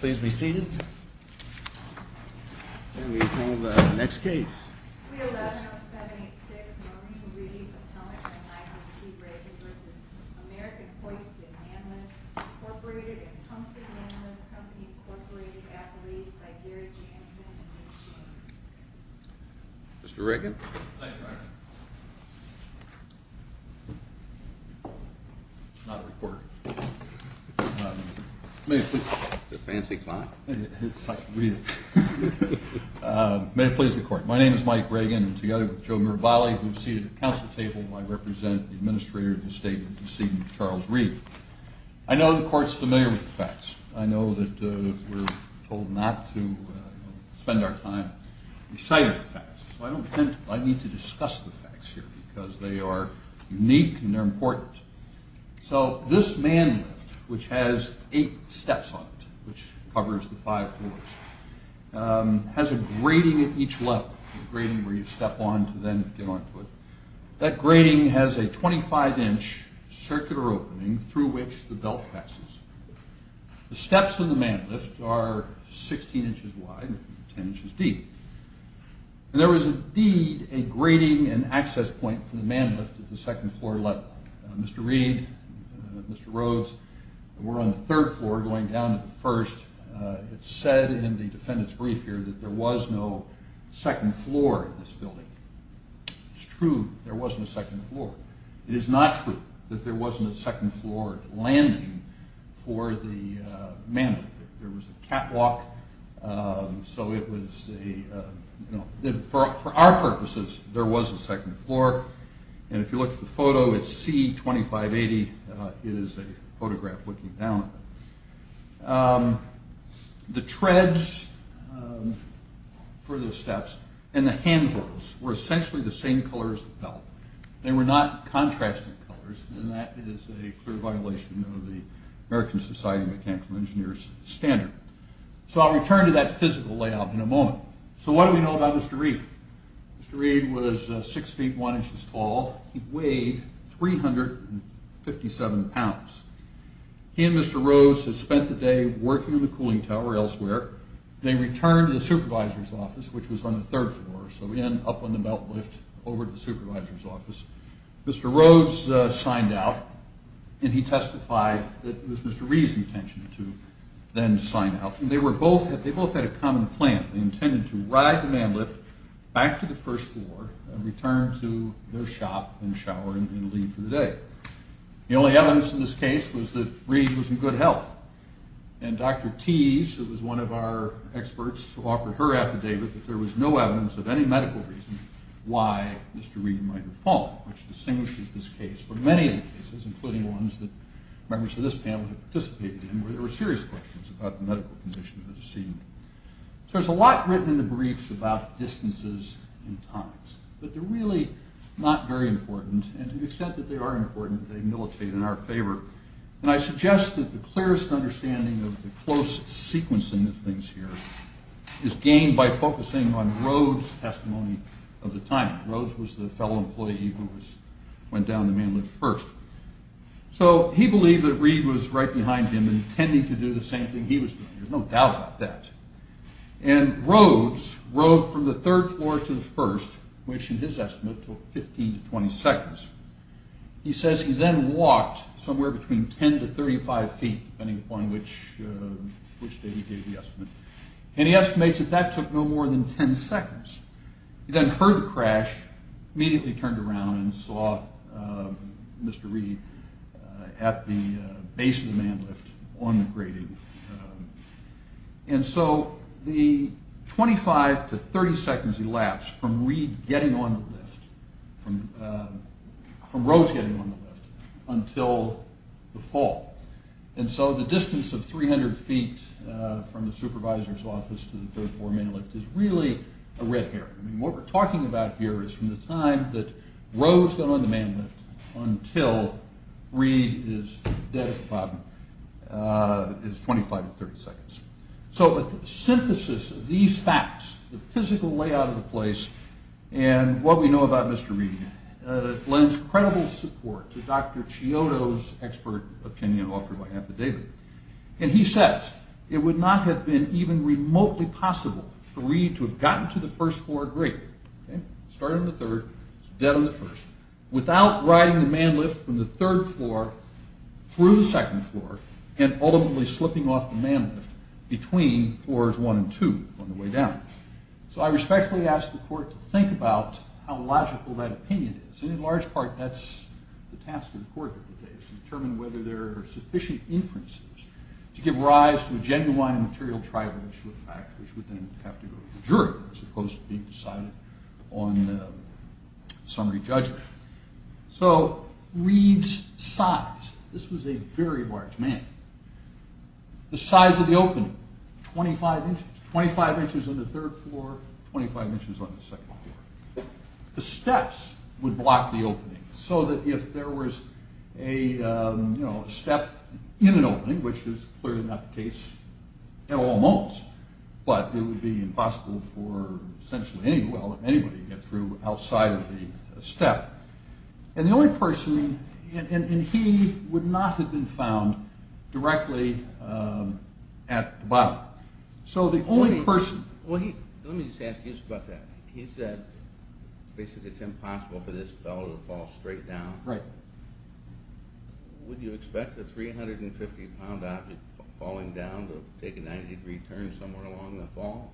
Please be seated. And we have the next case. 311-786-Morning Reading Appellant & I.M.T. Reagan v. American Hoist & Man Lift, Inc. & Pumpkin Man Lift Company, Inc. Appellees by Gary Jansen & Dick Sheen Mr. Reagan? Aye, Your Honor. It's not a report. It's a fancy client. It's like reading. May it please the Court. My name is Mike Reagan, together with Joe Mirabali, who is seated at the Council table. I represent the Administrator of the State in the seat of Charles Reed. I know the Court's familiar with the facts. I know that we're told not to spend our time reciting the facts. So I don't intend to. I need to discuss the facts here because they are unique and they're important. So this man lift, which has eight steps on it, which covers the five floors, has a grating at each level, a grating where you step on to then get onto it. That grating has a 25-inch circular opening through which the belt passes. The steps in the man lift are 16 inches wide and 10 inches deep. There was indeed a grating and access point for the man lift at the second floor level. Mr. Reed, Mr. Rhodes, were on the third floor going down to the first. It's said in the defendant's brief here that there was no second floor in this building. It's true there wasn't a second floor. It is not true that there wasn't a second floor landing for the man lift. There was a catwalk. So it was a, you know, for our purposes, there was a second floor. And if you look at the photo, it's C2580. It is a photograph looking down at it. The treads for the steps and the handrails were essentially the same color as the belt. They were not contrasting colors. And that is a clear violation of the American Society of Mechanical Engineers standard. So I'll return to that physical layout in a moment. So what do we know about Mr. Reed? Mr. Reed was 6 feet 1 inches tall. He weighed 357 pounds. He and Mr. Rhodes had spent the day working in the cooling tower elsewhere. They returned to the supervisor's office, which was on the third floor. So in, up on the belt lift, over to the supervisor's office. Mr. Rhodes signed out, and he testified that it was Mr. Reed's intention to then sign out. They both had a common plan. They intended to ride the man lift back to the first floor and return to their shop and shower and leave for the day. The only evidence in this case was that Reed was in good health. And Dr. Tease, who was one of our experts, offered her affidavit that there was no evidence of any medical reason why Mr. Reed might have fallen, which distinguishes this case from many other cases, including ones that members of this panel have participated in, where there were serious questions about the medical condition of the decedent. So there's a lot written in the briefs about distances and times. But they're really not very important. And to the extent that they are important, they militate in our favor. And I suggest that the clearest understanding of the close sequencing of things here is gained by focusing on Rhodes' testimony of the time. Rhodes was the fellow employee who went down the man lift first. So he believed that Reed was right behind him, intending to do the same thing he was doing. There's no doubt about that. And Rhodes rode from the third floor to the first, which, in his estimate, took 15 to 20 seconds. He says he then walked somewhere between 10 to 35 feet, depending upon which day he gave the estimate. And he estimates that that took no more than 10 seconds. He then heard the crash, immediately turned around and saw Mr. Reed at the base of the man lift on the grating. And so the 25 to 30 seconds elapsed from Reed getting on the lift, from Rhodes getting on the lift, until the fall. And so the distance of 300 feet from the supervisor's office to the third floor man lift is really a red herring. I mean, what we're talking about here is from the time that Rhodes got on the man lift until Reed is dead at the bottom, is 25 to 30 seconds. So the synthesis of these facts, the physical layout of the place, and what we know about Mr. Reed, lends credible support to Dr. Chiodo's expert opinion offered by Amphidavid. And he says, it would not have been even remotely possible for Reed to have gotten to the first floor grating, started on the third, dead on the first, without riding the man lift from the third floor through the second floor and ultimately slipping off the man lift between floors one and two on the way down. So I respectfully ask the court to think about how logical that opinion is. And in large part, that's the task of the court of the day, to determine whether there are sufficient inferences to give rise to a genuine material trial issue of fact, which would then have to go to the jury, as opposed to being decided on summary judgment. So Reed's size, this was a very large man. The size of the opening, 25 inches, 25 inches on the third floor, 25 inches on the second floor. The steps would block the opening, so that if there was a step in an opening, which is clearly not the case at all moments, but it would be impossible for essentially anyone, anybody to get through outside of the step. And the only person, and he would not have been found directly at the bottom. Let me just ask you about that. He said basically it's impossible for this fellow to fall straight down. Right. Would you expect a 350 pound object falling down to take a 90 degree turn somewhere along the fall?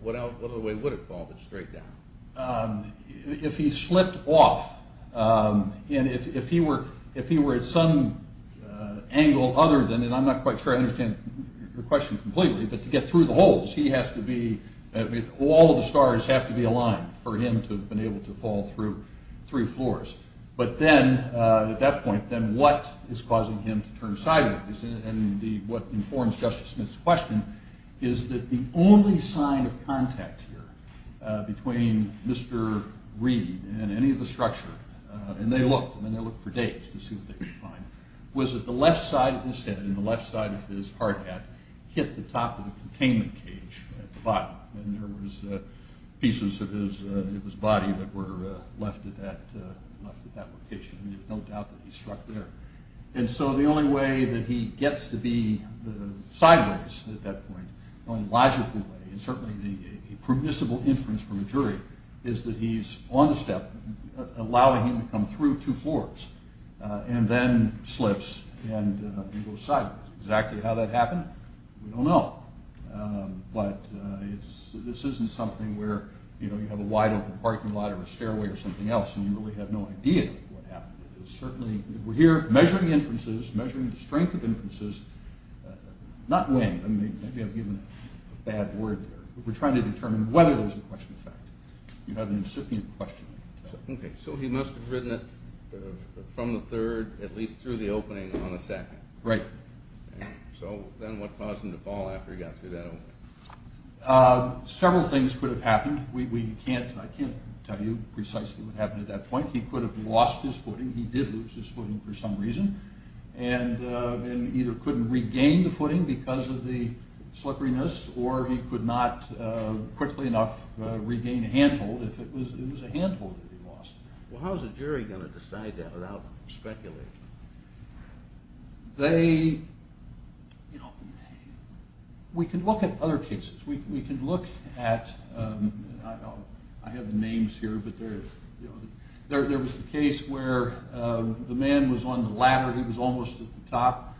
What other way would it fall but straight down? If he slipped off, and if he were at some angle other than, and I'm not quite sure I understand the question completely, but to get through the holes he has to be, all of the stars have to be aligned for him to have been able to fall through three floors. But then at that point, then what is causing him to turn sideways? And what informs Justice Smith's question is that the only sign of contact here between Mr. Reed and any of the structure, and they looked, and they looked for days to see what they could find, was that the left side of his head and the left side of his hard hat hit the top of the containment cage at the bottom. And there was pieces of his body that were left at that location. And there's no doubt that he struck there. And so the only way that he gets to be sideways at that point, the only logical way, and certainly a permissible inference from a jury, is that he's on the step, allowing him to come through two floors, and then slips and goes sideways. Exactly how that happened, we don't know. But this isn't something where you have a wide open parking lot or a stairway or something else and you really have no idea what happened. We're here measuring inferences, measuring the strength of inferences, not weighing, maybe I've given a bad word there, we're trying to determine whether there's a question of fact. You have an incipient question. Okay, so he must have ridden it from the third at least through the opening on the second. Right. So then what caused him to fall after he got through that opening? Several things could have happened. We can't, I can't tell you precisely what happened at that point. He could have lost his footing, he did lose his footing for some reason, and either couldn't regain the footing because of the slipperiness or he could not quickly enough regain a handhold if it was a handhold that he lost. Well how is a jury going to decide that without speculating? They, you know, we can look at other cases. We can look at, I have the names here, but there was a case where the man was on the ladder, he was almost at the top.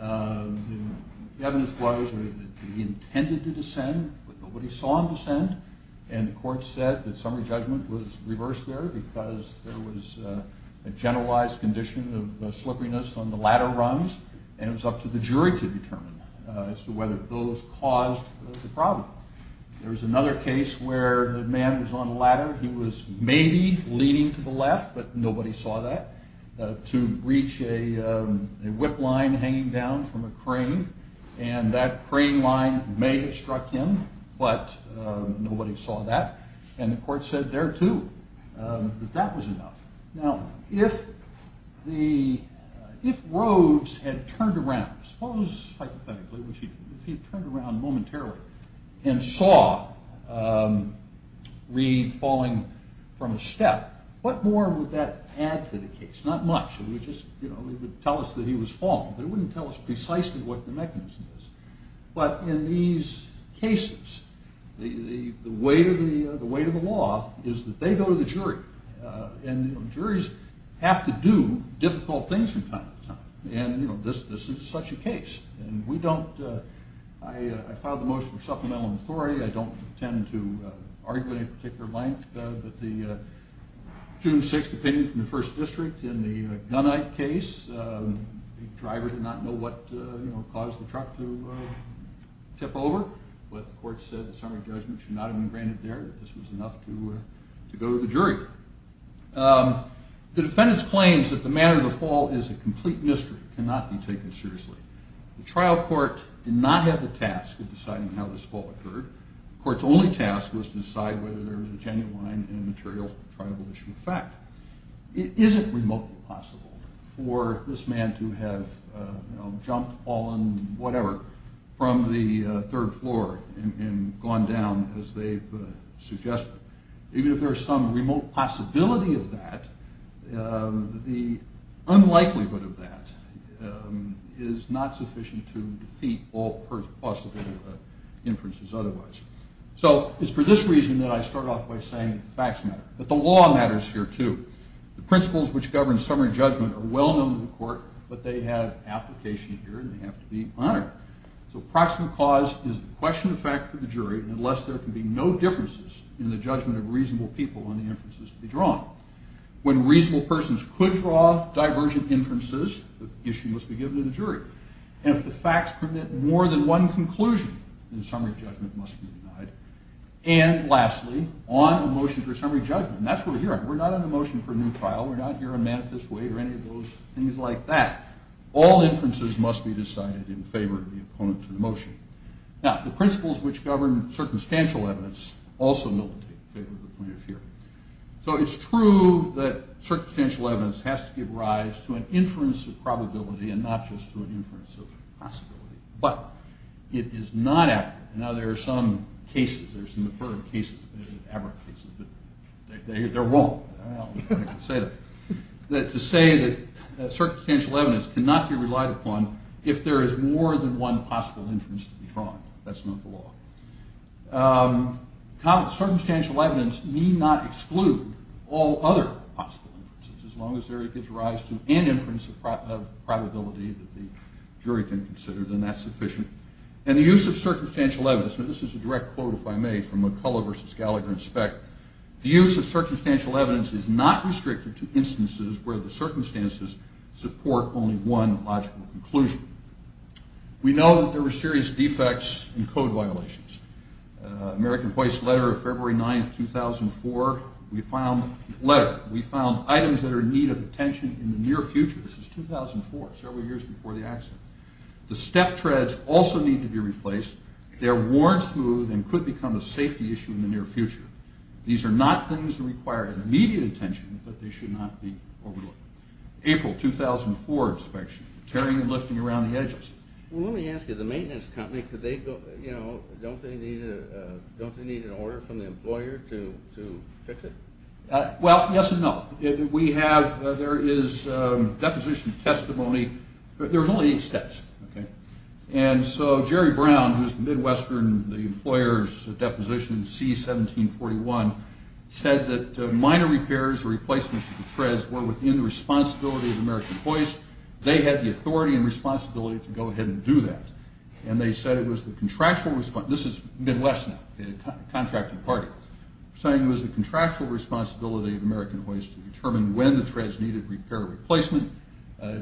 The evidence was that he intended to descend, but nobody saw him descend, and the court said that summary judgment was reversed there because there was a generalized condition of slipperiness on the ladder rungs and it was up to the jury to determine as to whether those caused the problem. There was another case where the man was on the ladder, he was maybe leaning to the left, but nobody saw that, to reach a whip line hanging down from a crane, and that crane line may have struck him, but nobody saw that, and the court said there too that that was enough. Now if Rhodes had turned around, suppose hypothetically, if he turned around momentarily and saw Reed falling from a step, what more would that add to the case? Not much, it would just tell us that he was falling, but it wouldn't tell us precisely what the mechanism was. But in these cases, the weight of the law is that they go to the jury, and juries have to do difficult things from time to time, and this is such a case, and we don't, I filed the motion for supplemental authority, I don't intend to argue at any particular length, but the June 6th opinion from the first district in the Gunite case, the driver did not know what caused the truck to tip over, but the court said the summary judgment should not have been granted there, that this was enough to go to the jury. The defendant's claims that the manner of the fall is a complete mystery, cannot be taken seriously. The trial court did not have the task of deciding how this fall occurred, the court's only task was to decide whether there was a genuine, immaterial, triable issue of fact. Is it remotely possible for this man to have jumped, fallen, whatever, from the third floor and gone down as they've suggested? Even if there's some remote possibility of that, the unlikelihood of that is not sufficient to defeat all possible inferences otherwise. So it's for this reason that I start off by saying that the facts matter, but the law matters here too. The principles which govern summary judgment are well known to the court, but they have application here and they have to be honored. So proximate cause is a question of fact for the jury, unless there can be no differences in the judgment of reasonable people on the inferences to be drawn. When reasonable persons could draw divergent inferences, the issue must be given to the jury. And if the facts permit more than one conclusion, then summary judgment must be denied. And lastly, on a motion for summary judgment, that's what we're here on, we're not on a motion for a new trial, we're not here on manifest way or any of those things like that. All inferences must be decided in favor of the opponent to the motion. Now, the principles which govern circumstantial evidence also militate in favor of the point of fear. So it's true that circumstantial evidence has to give rise to an inference of probability and not just to an inference of possibility. But it is not accurate. Now, there are some cases, there are some recurrent cases, but they're wrong. I don't think I can say that. To say that circumstantial evidence cannot be relied upon if there is more than one possible inference to be drawn, that's not the law. Circumstantial evidence need not exclude all other possible inferences. As long as there is a rise to an inference of probability that the jury can consider, then that's sufficient. And the use of circumstantial evidence, and this is a direct quote if I may from McCullough versus Gallagher and Speck, the use of circumstantial evidence is not restricted to instances where the circumstances support only one logical conclusion. We know that there were serious defects and code violations. American Voice letter of February 9, 2004, we found items that are in need of attention in the near future. This is 2004, several years before the accident. The step treads also need to be replaced. They are worn smooth and could become a safety issue in the near future. These are not things that require immediate attention, but they should not be overlooked. April 2004 inspection, tearing and lifting around the edges. Well, let me ask you, the maintenance company, don't they need an order from the employer to fix it? Well, yes and no. We have, there is deposition testimony, but there's only eight steps. And so Jerry Brown, who's Midwestern, the employer's deposition C-1741, said that minor repairs or replacements of the treads were within the responsibility of American Voice. They had the authority and responsibility to go ahead and do that. And they said it was the contractual response. This is Midwestern, the contracting party, saying it was the contractual responsibility of American Voice to determine when the treads needed repair or replacement.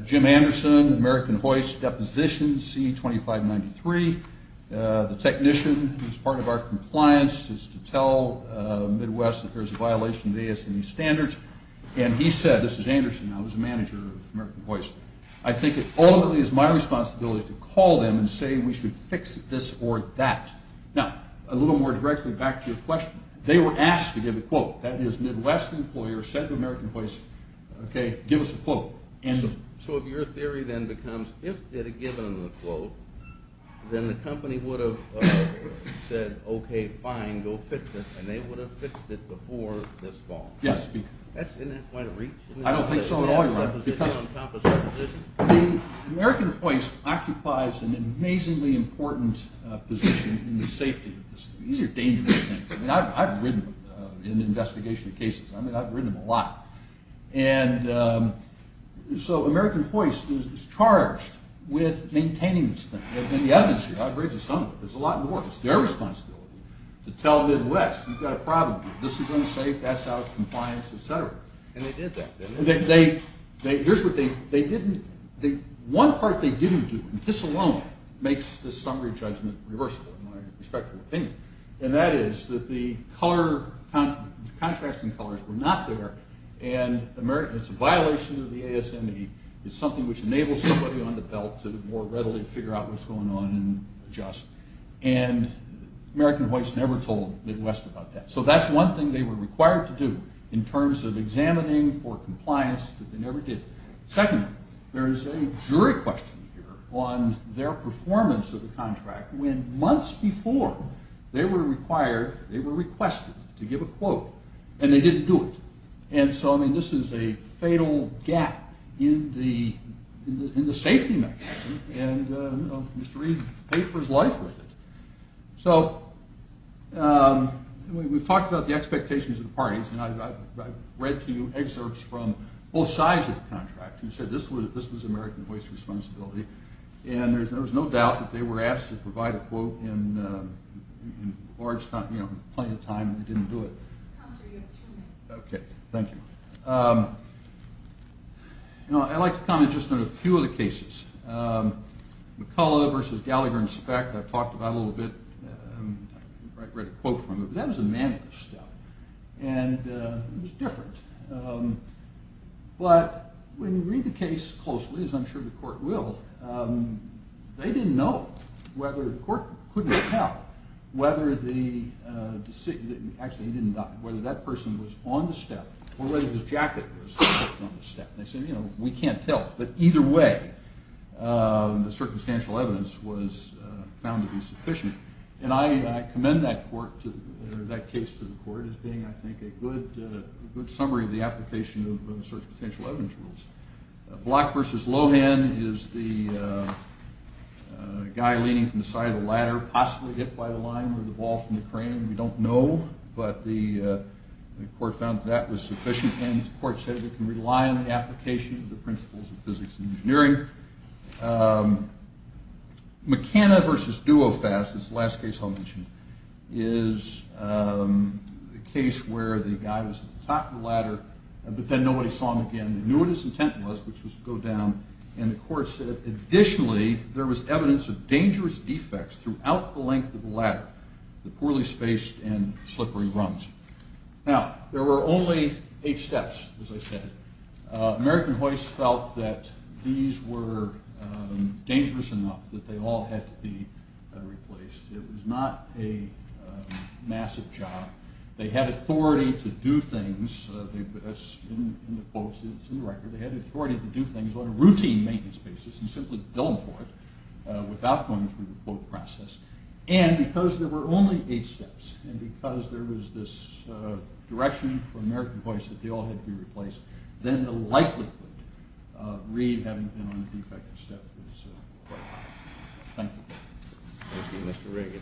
Jim Anderson, American Voice deposition C-2593, the technician who's part of our compliance is to tell Midwest that there's a violation of ASME standards. And he said, this is Anderson, I was the manager of American Voice, I think it ultimately is my responsibility to call them and say we should fix this or that. Now, a little more directly back to your question. They were asked to give a quote. That is, Midwest employer said to American Voice, okay, give us a quote. So if your theory then becomes, if they'd have given them the quote, then the company would have said, okay, fine, go fix it, and they would have fixed it before this fall. Isn't that quite a reach? I don't think so at all. American Voice occupies an amazingly important position in the safety. These are dangerous things. I've ridden them in investigation cases. I've ridden them a lot. And so American Voice is charged with maintaining this thing. And the evidence here, I've ridden some of it. There's a lot more. It's their responsibility to tell Midwest, you've got a problem. This is unsafe, that's out of compliance, et cetera. And they did that. Here's what they didn't do. One part they didn't do, and this alone makes this summary judgment reversible, in my respectful opinion, and that is that the contrasting colors were not there, and it's a violation of the ASME. It's something which enables somebody on the belt to more readily figure out what's going on and adjust. And American Voice never told Midwest about that. So that's one thing they were required to do in terms of examining for compliance that they never did. Secondly, there's a jury question here on their performance of the contract when months before they were required, they were requested to give a quote, and they didn't do it. And so, I mean, this is a fatal gap in the safety mechanism, and Mr. Reid paid for his life with it. So we've talked about the expectations of the parties, and I've read to you excerpts from both sides of the contract who said this was American Voice's responsibility, and there's no doubt that they were asked to provide a quote in large, you know, plenty of time, and they didn't do it. Okay, thank you. You know, I'd like to comment just on a few of the cases. McCullough versus Gallagher and Speck I've talked about a little bit. I read a quote from it, but that was a man of his stuff, and it was different. But when you read the case closely, as I'm sure the court will, they didn't know whether the court couldn't tell whether the decision, actually he didn't die, whether that person was on the step or whether his jacket was on the step. They said, you know, we can't tell, but either way the circumstantial evidence was found to be sufficient. And I commend that court or that case to the court as being, I think, a good summary of the application of the circumstantial evidence rules. Block versus Lohan is the guy leaning from the side of the ladder, possibly hit by the line or the ball from the crane. We don't know, but the court found that that was sufficient, and the court said we can rely on the application of the principles of physics and engineering. McKenna versus Duofast is the last case I'll mention, is the case where the guy was at the top of the ladder, but then nobody saw him again. They knew what his intent was, which was to go down, and the court said additionally there was evidence of dangerous defects throughout the length of the ladder, the poorly spaced and slippery rungs. Now, there were only eight steps, as I said. American Hoist felt that these were dangerous enough that they all had to be replaced. It was not a massive job. They had authority to do things. In the quotes, it's in the record, they had authority to do things on a routine maintenance basis and simply bill them for it without going through the process. And because there were only eight steps and because there was this direction for American Hoist that they all had to be replaced, then the likelihood of Reed having been on a defective step was quite high. Thank you. Thank you, Mr. Reagan.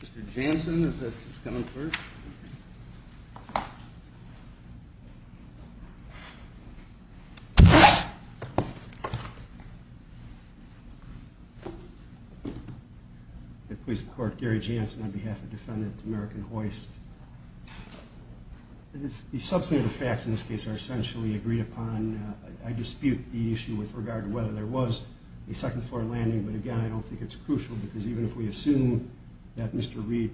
Mr. Jansen, is that who's coming first? The Police Court. Gary Jansen on behalf of Defendant American Hoist. The substantive facts in this case are essentially agreed upon. I dispute the issue with regard to whether there was a second floor landing, but, again, I don't think it's crucial because even if we assume that Mr. Reed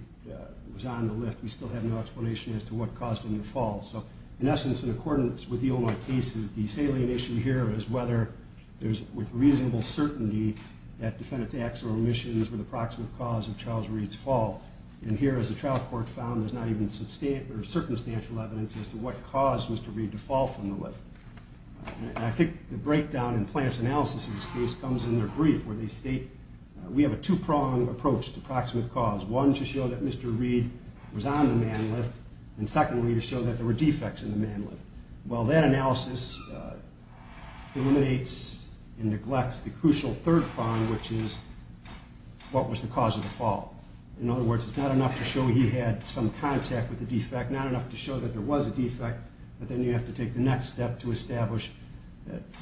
was on the lift, we still have no explanation as to what caused him to fall. So, in essence, in accordance with the Omar case, the salient issue here is whether there's, with reasonable certainty, that defendant's acts or omissions were the proximate cause of Charles Reed's fall. And here, as the trial court found, there's not even circumstantial evidence as to what caused Mr. Reed to fall from the lift. And I think the breakdown in plaintiff's analysis of this case comes in their brief, where they state, we have a two-pronged approach to proximate cause. One, to show that Mr. Reed was on the man lift, and secondly, to show that there were defects in the man lift. Well, that analysis eliminates and neglects the crucial third prong, which is, what was the cause of the fall? In other words, it's not enough to show he had some contact with the defect, not enough to show that there was a defect, but then you have to take the next step to establish,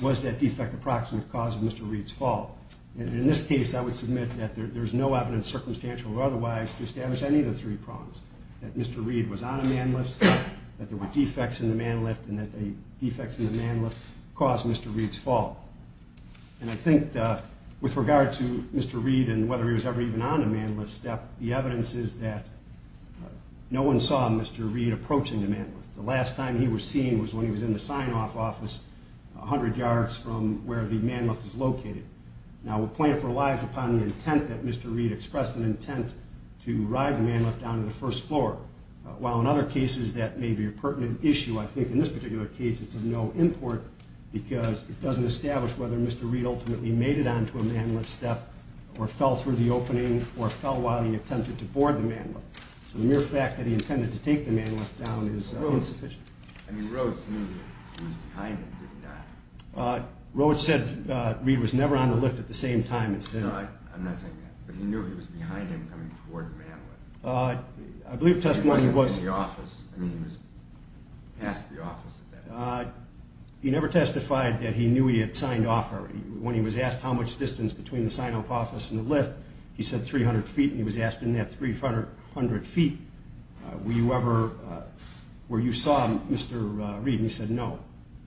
was that defect the proximate cause of Mr. Reed's fall? And in this case, I would submit that there's no evidence, circumstantial or otherwise, to establish any of the three prongs, that Mr. Reed was on a man lift, that there were defects in the man lift, and that the defects in the man lift caused Mr. Reed's fall. And I think, with regard to Mr. Reed and whether he was ever even on a man lift, the evidence is that no one saw Mr. Reed approaching the man lift. The last time he was seen was when he was in the sign-off office, 100 yards from where the man lift is located. Now, the point relies upon the intent that Mr. Reed expressed, an intent to ride the man lift down to the first floor. While in other cases that may be a pertinent issue, I think in this particular case it's of no import, because it doesn't establish whether Mr. Reed ultimately made it onto a man lift step or fell through the opening or fell while he attempted to board the man lift. So the mere fact that he intended to take the man lift down is insufficient. I mean, Roach knew he was behind him, did he not? Roach said Reed was never on the lift at the same time. No, I'm not saying that, but he knew he was behind him coming towards the man lift. He wasn't in the office. I mean, he was past the office at that point. He never testified that he knew he had signed off. When he was asked how much distance between the sign-off office and the lift, he said 300 feet, and he was asked in that 300 feet, were you ever where you saw Mr. Reed, and he said no.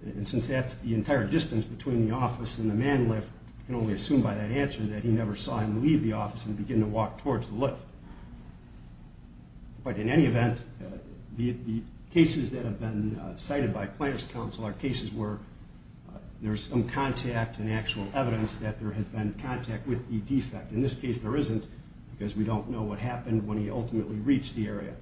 And since that's the entire distance between the office and the man lift, you can only assume by that answer that he never saw him leave the office and begin to walk towards the lift. But in any event, the cases that have been cited by plaintiff's counsel are cases where there's some contact and actual evidence that there has been contact with the defect. In this case there isn't, because we don't know what happened when he ultimately reached the area.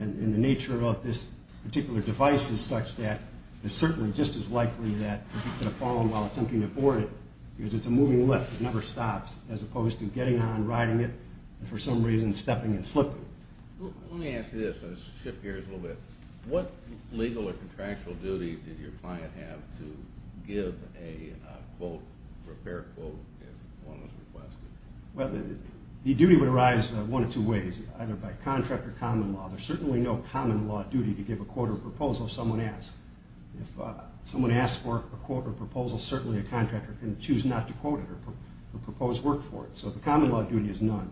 And the nature of this particular device is such that it's certainly just as likely that he could have fallen while attempting to board it because it's a moving lift. It never stops, as opposed to getting on, riding it, and for some reason stepping and slipping. Let me ask you this. Let's shift gears a little bit. What legal or contractual duty did your client have to give a quote, repair quote, if one was requested? The duty would arise one of two ways, either by contract or common law. There's certainly no common law duty to give a quote or proposal if someone asks. If someone asks for a quote or proposal, certainly a contractor can choose not to quote it or propose work for it. So the common law duty is none.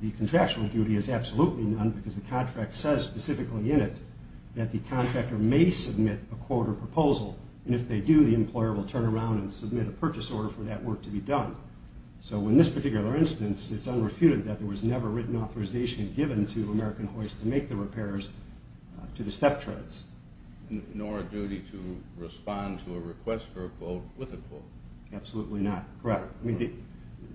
The contractual duty is absolutely none, because the contract says specifically in it that the contractor may submit a quote or proposal. And if they do, the employer will turn around and submit a purchase order for that work to be done. So in this particular instance, it's unrefuted that there was never written authorization given to American Hoist to make the repairs to the step treads. Nor a duty to respond to a request for a quote with a quote. Absolutely not. Correct.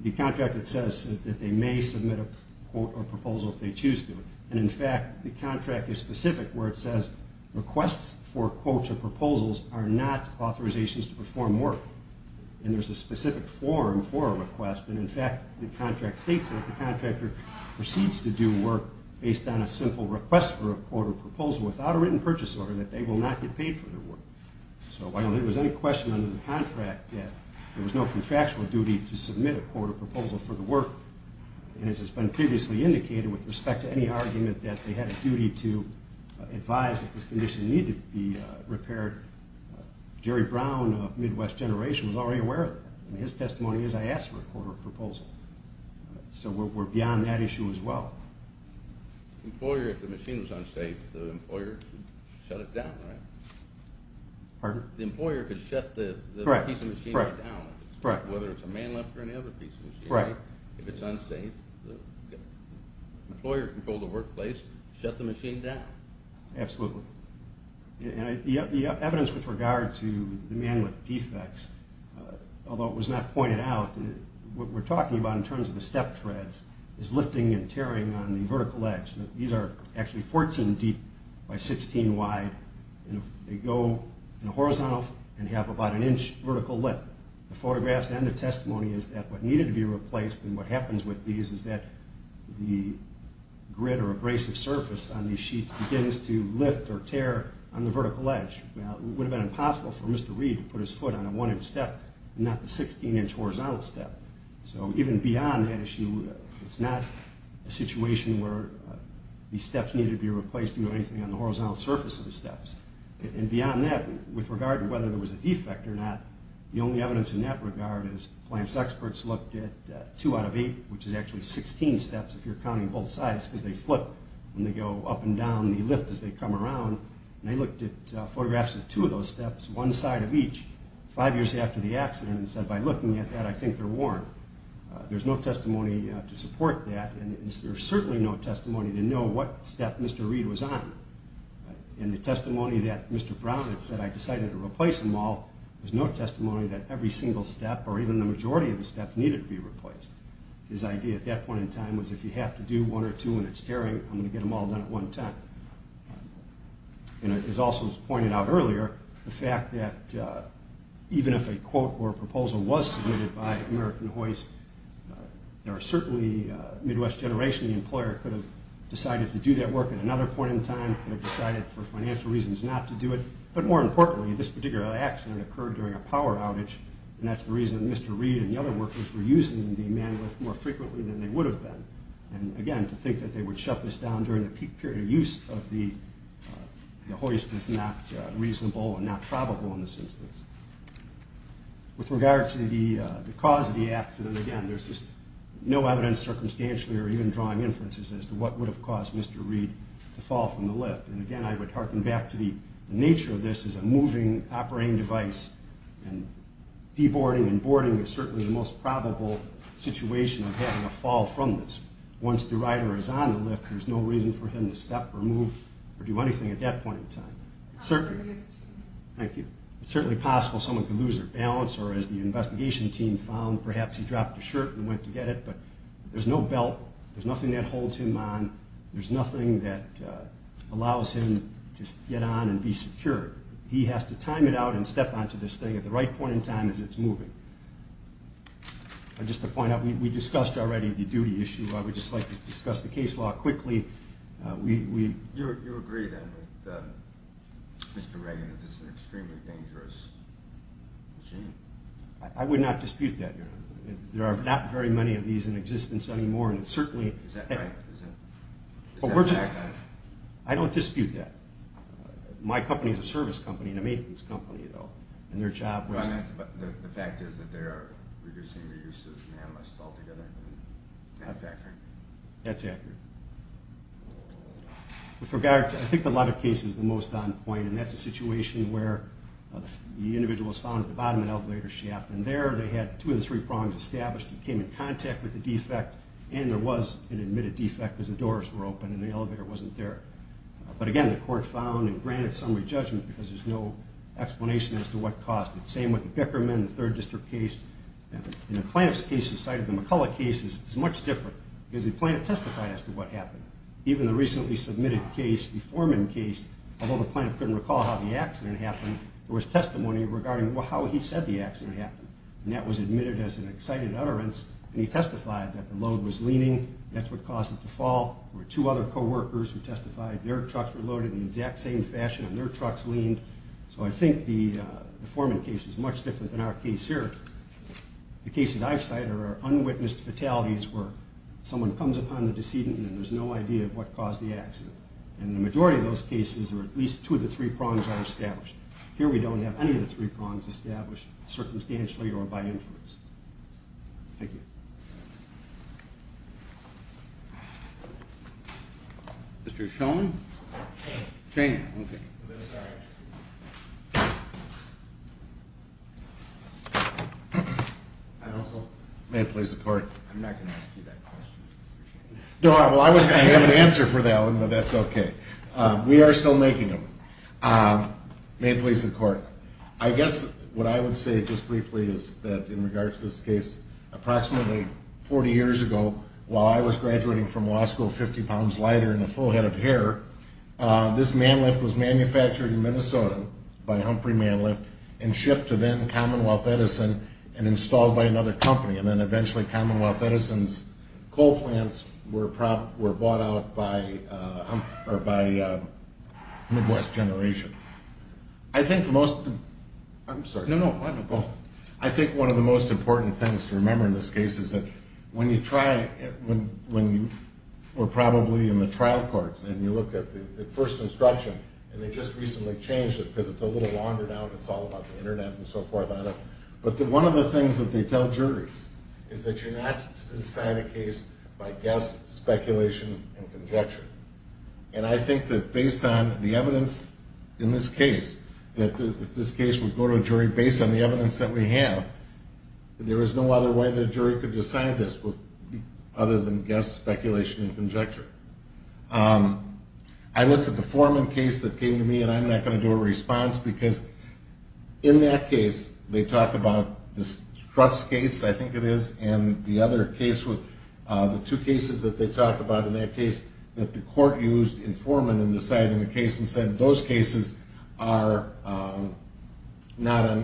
The contract says that they may submit a quote or proposal if they choose to. And, in fact, the contract is specific where it says requests for quotes or proposals are not authorizations to perform work. And there's a specific form for a request. And, in fact, the contract states that the contractor proceeds to do work based on a simple request for a quote or proposal without a written purchase order that they will not get paid for their work. So while there was any question under the contract that there was no contractual duty to submit a quote or proposal for the work, and as has been previously indicated with respect to any argument that they had a duty to advise that this condition needed to be repaired, Jerry Brown of Midwest Generation was already aware of that, and his testimony is I asked for a quote or proposal. So we're beyond that issue as well. Employer, if the machine was unsafe, the employer should shut it down, right? Pardon? The employer could shut the piece of machinery down. Correct. Whether it's a man lift or any other piece of machinery. Correct. If it's unsafe, the employer can pull the workplace, shut the machine down. Absolutely. The evidence with regard to the man lift defects, although it was not pointed out, what we're talking about in terms of the step treads is lifting and tearing on the vertical edge. These are actually 14 deep by 16 wide, and they go in a horizontal and have about an inch vertical lift. The photographs and the testimony is that what needed to be replaced and what happens with these is that the grid or abrasive surface on these sheets begins to lift or tear on the vertical edge. It would have been impossible for Mr. Reed to put his foot on a 1-inch step and not the 16-inch horizontal step. So even beyond that issue, it's not a situation where these steps need to be replaced or anything on the horizontal surface of the steps. And beyond that, with regard to whether there was a defect or not, the only evidence in that regard is plants experts looked at two out of eight, which is actually 16 steps if you're counting both sides because they flip when they go up and down the lift as they come around, and they looked at photographs of two of those steps, one side of each, five years after the accident, and said, by looking at that, I think they're worn. There's no testimony to support that, and there's certainly no testimony to know what step Mr. Reed was on. In the testimony that Mr. Brown had said, I decided to replace them all, there's no testimony that every single step or even the majority of the steps needed to be replaced. His idea at that point in time was if you have to do one or two and it's daring, I'm going to get them all done at one time. And it was also pointed out earlier, the fact that even if a quote or proposal was submitted by American Hoist, there are certainly Midwest Generation, the employer, could have decided to do that work at another point in time, could have decided for financial reasons not to do it, but more importantly, this particular accident occurred during a power outage, and that's the reason Mr. Reed and the other workers were using the man lift more frequently than they would have been. And again, to think that they would shut this down during the peak period of use of the hoist is not reasonable and not probable in this instance. With regard to the cause of the accident, again, there's just no evidence circumstantially or even drawing inferences as to what would have caused Mr. Reed to fall from the lift. And again, I would harken back to the nature of this as a moving operating device, and deboarding and boarding is certainly the most probable situation of having a fall from this. Once the rider is on the lift, there's no reason for him to step or move or do anything at that point in time. Thank you. It's certainly possible someone could lose their balance, or as the investigation team found, perhaps he dropped a shirt and went to get it, but there's no belt, there's nothing that holds him on, there's nothing that allows him to get on and be secure. He has to time it out and step onto this thing at the right point in time as it's moving. Just to point out, we discussed already the duty issue. I would just like to discuss the case law quickly. You agree, then, with Mr. Reagan that this is an extremely dangerous machine? I would not dispute that, Your Honor. There are not very many of these in existence anymore, and certainly... Is that right? I don't dispute that. My company is a service company, and a maintenance company, though, and their job was... The fact is that they are reducing the use of nanomachines altogether. That's accurate. That's accurate. With regard to... I think the latter case is the most on point, and that's a situation where the individual was found at the bottom of an elevator shaft, and there they had two of the three prongs established. He came in contact with the defect, and there was an admitted defect because the doors were open and the elevator wasn't there. But again, the court found and granted summary judgment because there's no explanation as to what caused it. Same with the Bickerman, the Third District case. And the plaintiff's case, aside from the McCullough case, is much different because the plaintiff testified as to what happened. Even the recently submitted case, the Foreman case, although the plaintiff couldn't recall how the accident happened, there was testimony regarding how he said the accident happened, and that was admitted as an excited utterance, and he testified that the load was leaning. That's what caused it to fall. There were two other co-workers who testified. Their trucks were loaded in the exact same fashion, and their trucks leaned. So I think the Foreman case is much different than our case here. The cases I've cited are unwitnessed fatalities where someone comes upon the decedent, and there's no idea what caused the accident. And the majority of those cases where at least two of the three prongs are established. Here we don't have any of the three prongs established circumstantially or by inference. Thank you. Mr. Schoen? Schoen, okay. I'm sorry. May it please the court. I'm not going to ask you that question, Mr. Schoen. No, well, I was going to have an answer for that one, but that's okay. We are still making them. May it please the court. I guess what I would say just briefly is that in regards to this case, approximately 40 years ago, while I was graduating from law school 50 pounds lighter and a full head of hair, this man lift was manufactured in Minnesota by Humphrey Man Lift and shipped to then Commonwealth Edison and installed by another company. And then eventually Commonwealth Edison's coal plants were bought out by Midwest Generation. I think the most... I'm sorry. No, no. I think one of the most important things to remember in this case is that when you try... When you were probably in the trial courts and you looked at the first instruction and they just recently changed it because it's a little longer now and it's all about the Internet and so forth, but one of the things that they tell juries is that you're not to decide a case by guess, speculation, and conjecture. And I think that based on the evidence in this case, that if this case would go to a jury based on the evidence that we have, there is no other way the jury could decide this other than guess, speculation, and conjecture. I looked at the Foreman case that came to me and I'm not going to do a response because in that case they talk about the Struts case, I think it is, and the other case, the two cases that they talk about in that case that the court used in Foreman in deciding the case and said those cases are dissimilar.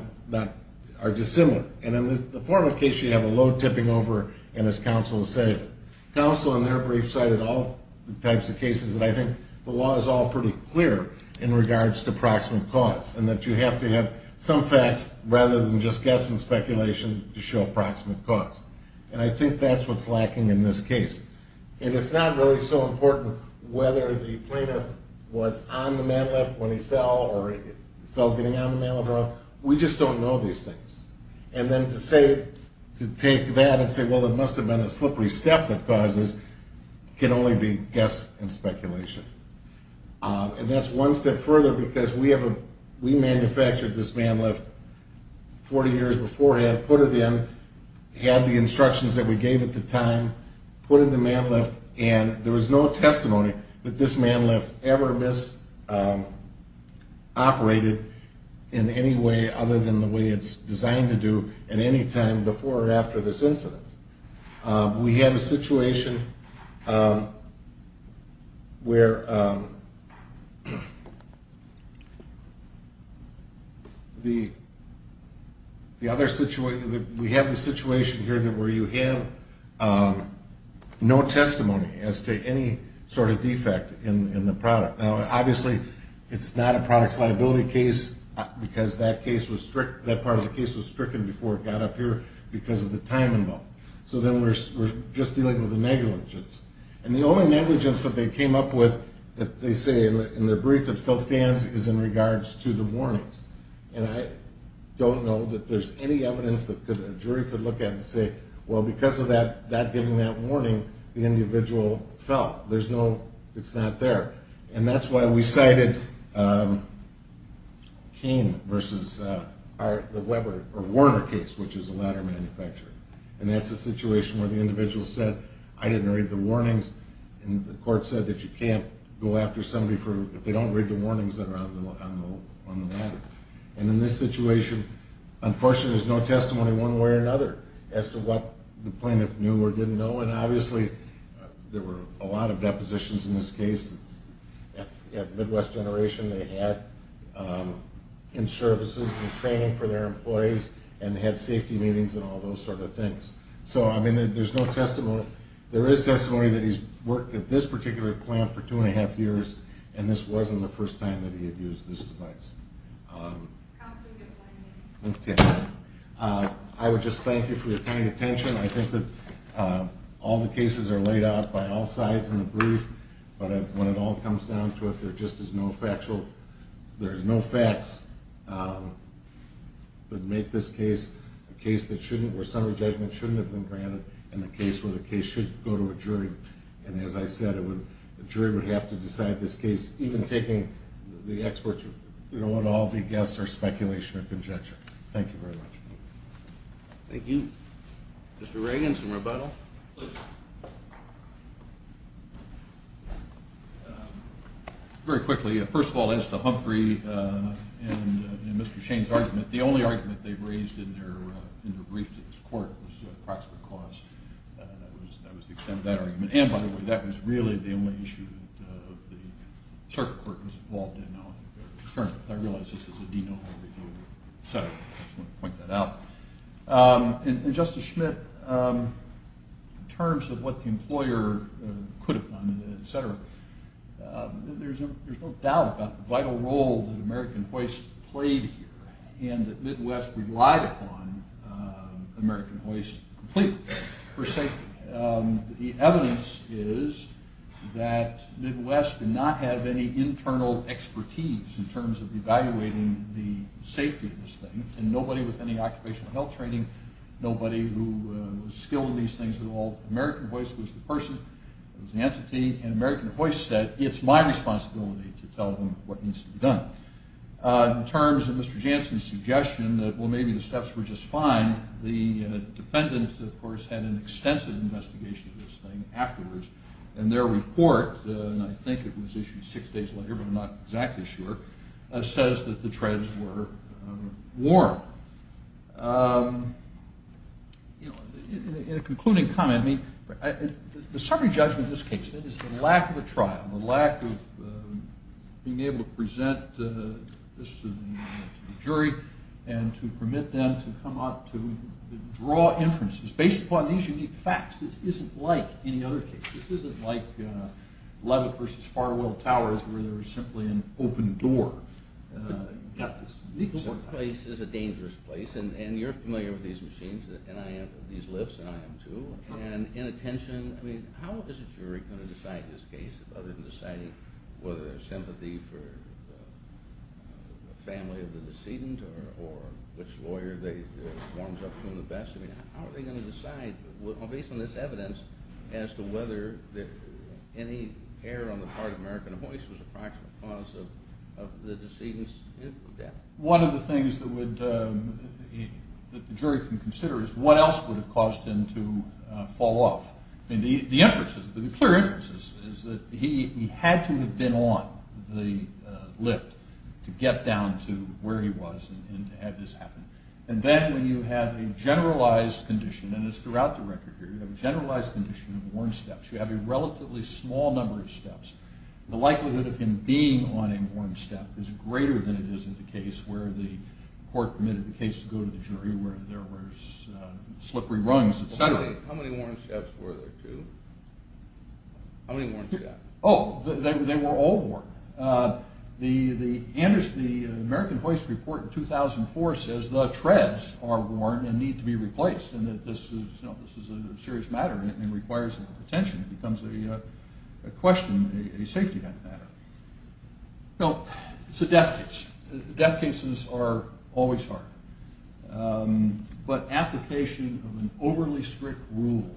And in the Foreman case you have a low tipping over and as counsel has said, counsel in their brief cited all types of cases and I think the law is all pretty clear in regards to proximate cause and that you have to have some facts rather than just guess and speculation to show proximate cause. And I think that's what's lacking in this case. And it's not really so important whether the plaintiff was on the man lift when he fell or fell getting on the man lift. We just don't know these things. And then to say, to take that and say, well it must have been a slippery step that causes, can only be guess and speculation. And that's one step further because we manufactured this man lift 40 years beforehand, put it in, had the instructions that we gave at the time, put in the man lift and there was no testimony that this man lift ever misoperated in any way other than the way it's designed to do at any time before or after this incident. We have a situation where the other situation, we have the situation here where you have no testimony as to any sort of defect in the product. Now obviously it's not a product's liability case because that part of the case was stricken before it got up here because of the time involved. So then we're just dealing with the negligence. And the only negligence that they came up with, that they say in their brief that still stands, is in regards to the warnings. And I don't know that there's any evidence that a jury could look at and say, well because of that giving that warning, the individual fell. There's no, it's not there. And that's why we cited Cain versus the Weber, or Warner case, which is a ladder manufacturer. And that's a situation where the individual said, I didn't read the warnings. And the court said that you can't go after somebody if they don't read the warnings that are on the ladder. And in this situation, unfortunately there's no testimony one way or another as to what the plaintiff knew or didn't know. And obviously there were a lot of depositions in this case at Midwest Generation. They had in-services and training for their employees and had safety meetings and all those sort of things. So I mean there's no testimony. There is testimony that he's worked at this particular plant for two and a half years, and this wasn't the first time that he had used this device. Counsel, you have one minute. Okay. I would just thank you for your kind attention. I think that all the cases are laid out by all sides in the brief, but when it all comes down to it, there just is no factual, there's no facts that make this case a case that shouldn't, where summary judgment shouldn't have been granted in a case where the case should go to a jury. And as I said, a jury would have to decide this case, even taking the experts. We don't want to all be guests or speculation or conjecture. Thank you very much. Thank you. Mr. Reagan, some rebuttal? Please. Very quickly. First of all, as to Humphrey and Mr. Shane's argument, the only argument they raised in their brief to this court was the approximate cost. That was the extent of that argument. And, by the way, that was really the only issue that the circuit court was involved in on their return. I realize this is a denormal review, so I just want to point that out. And, Justice Schmidt, in terms of what the employer could have done, et cetera, there's no doubt about the vital role that American Hoist played here and that Midwest relied upon American Hoist completely, per se. The evidence is that Midwest did not have any internal expertise in terms of evaluating the safety of this thing, and nobody with any occupational health training, nobody who was skilled in these things at all. American Hoist was the person, it was the entity, and American Hoist said, it's my responsibility to tell them what needs to be done. In terms of Mr. Jansen's suggestion that, well, maybe the steps were just fine, the defendants, of course, had an extensive investigation of this thing afterwards, and their report, and I think it was issued six days later, but I'm not exactly sure, says that the treads were warm. In a concluding comment, I mean, the summary judgment of this case, that is the lack of a trial, the lack of being able to present this to the jury and to permit them to come out to draw inferences, based upon these unique facts. This isn't like any other case. This isn't like Levitt versus Farwell Towers, where there was simply an open door. This place is a dangerous place, and you're familiar with these machines, and I am, these lifts, and I am too, and inattention. I mean, how is a jury going to decide this case other than deciding whether there's sympathy for the family of the decedent or which lawyer warms up to them the best? I mean, how are they going to decide, based on this evidence, as to whether any error on the part of American Voice was a practical cause of the decedent's death? One of the things that the jury can consider is what else would have caused him to fall off. I mean, the inferences, the clear inferences, is that he had to have been on the lift to get down to where he was and to have this happen. And then when you have a generalized condition, and it's throughout the record here, you have a generalized condition of worn steps. You have a relatively small number of steps. The likelihood of him being on a worn step is greater than it is in the case where the court permitted the case to go to the jury, where there was slippery rungs, et cetera. How many worn steps were there, too? How many worn steps? Oh, they were all worn. The American Voice report in 2004 says the treads are worn and need to be replaced, and that this is a serious matter and requires a lot of attention. It becomes a question, a safety matter. Now, it's a death case. Death cases are always hard. But application of an overly strict rule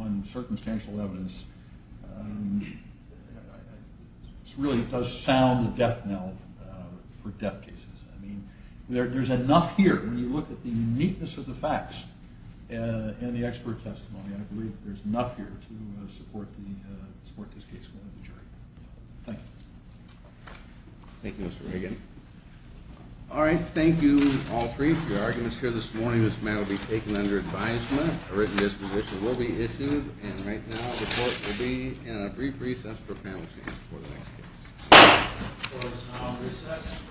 on circumstantial evidence really does sound a death knell for death cases. I mean, there's enough here. When you look at the uniqueness of the facts and the expert testimony, I believe there's enough here to support this case going to the jury. Thank you. Thank you, Mr. Reagan. All right. Thank you, all three, for your arguments here this morning. This matter will be taken under advisement. A written disposition will be issued. And right now, the court will be in a brief recess for panel seats The court is now on recess.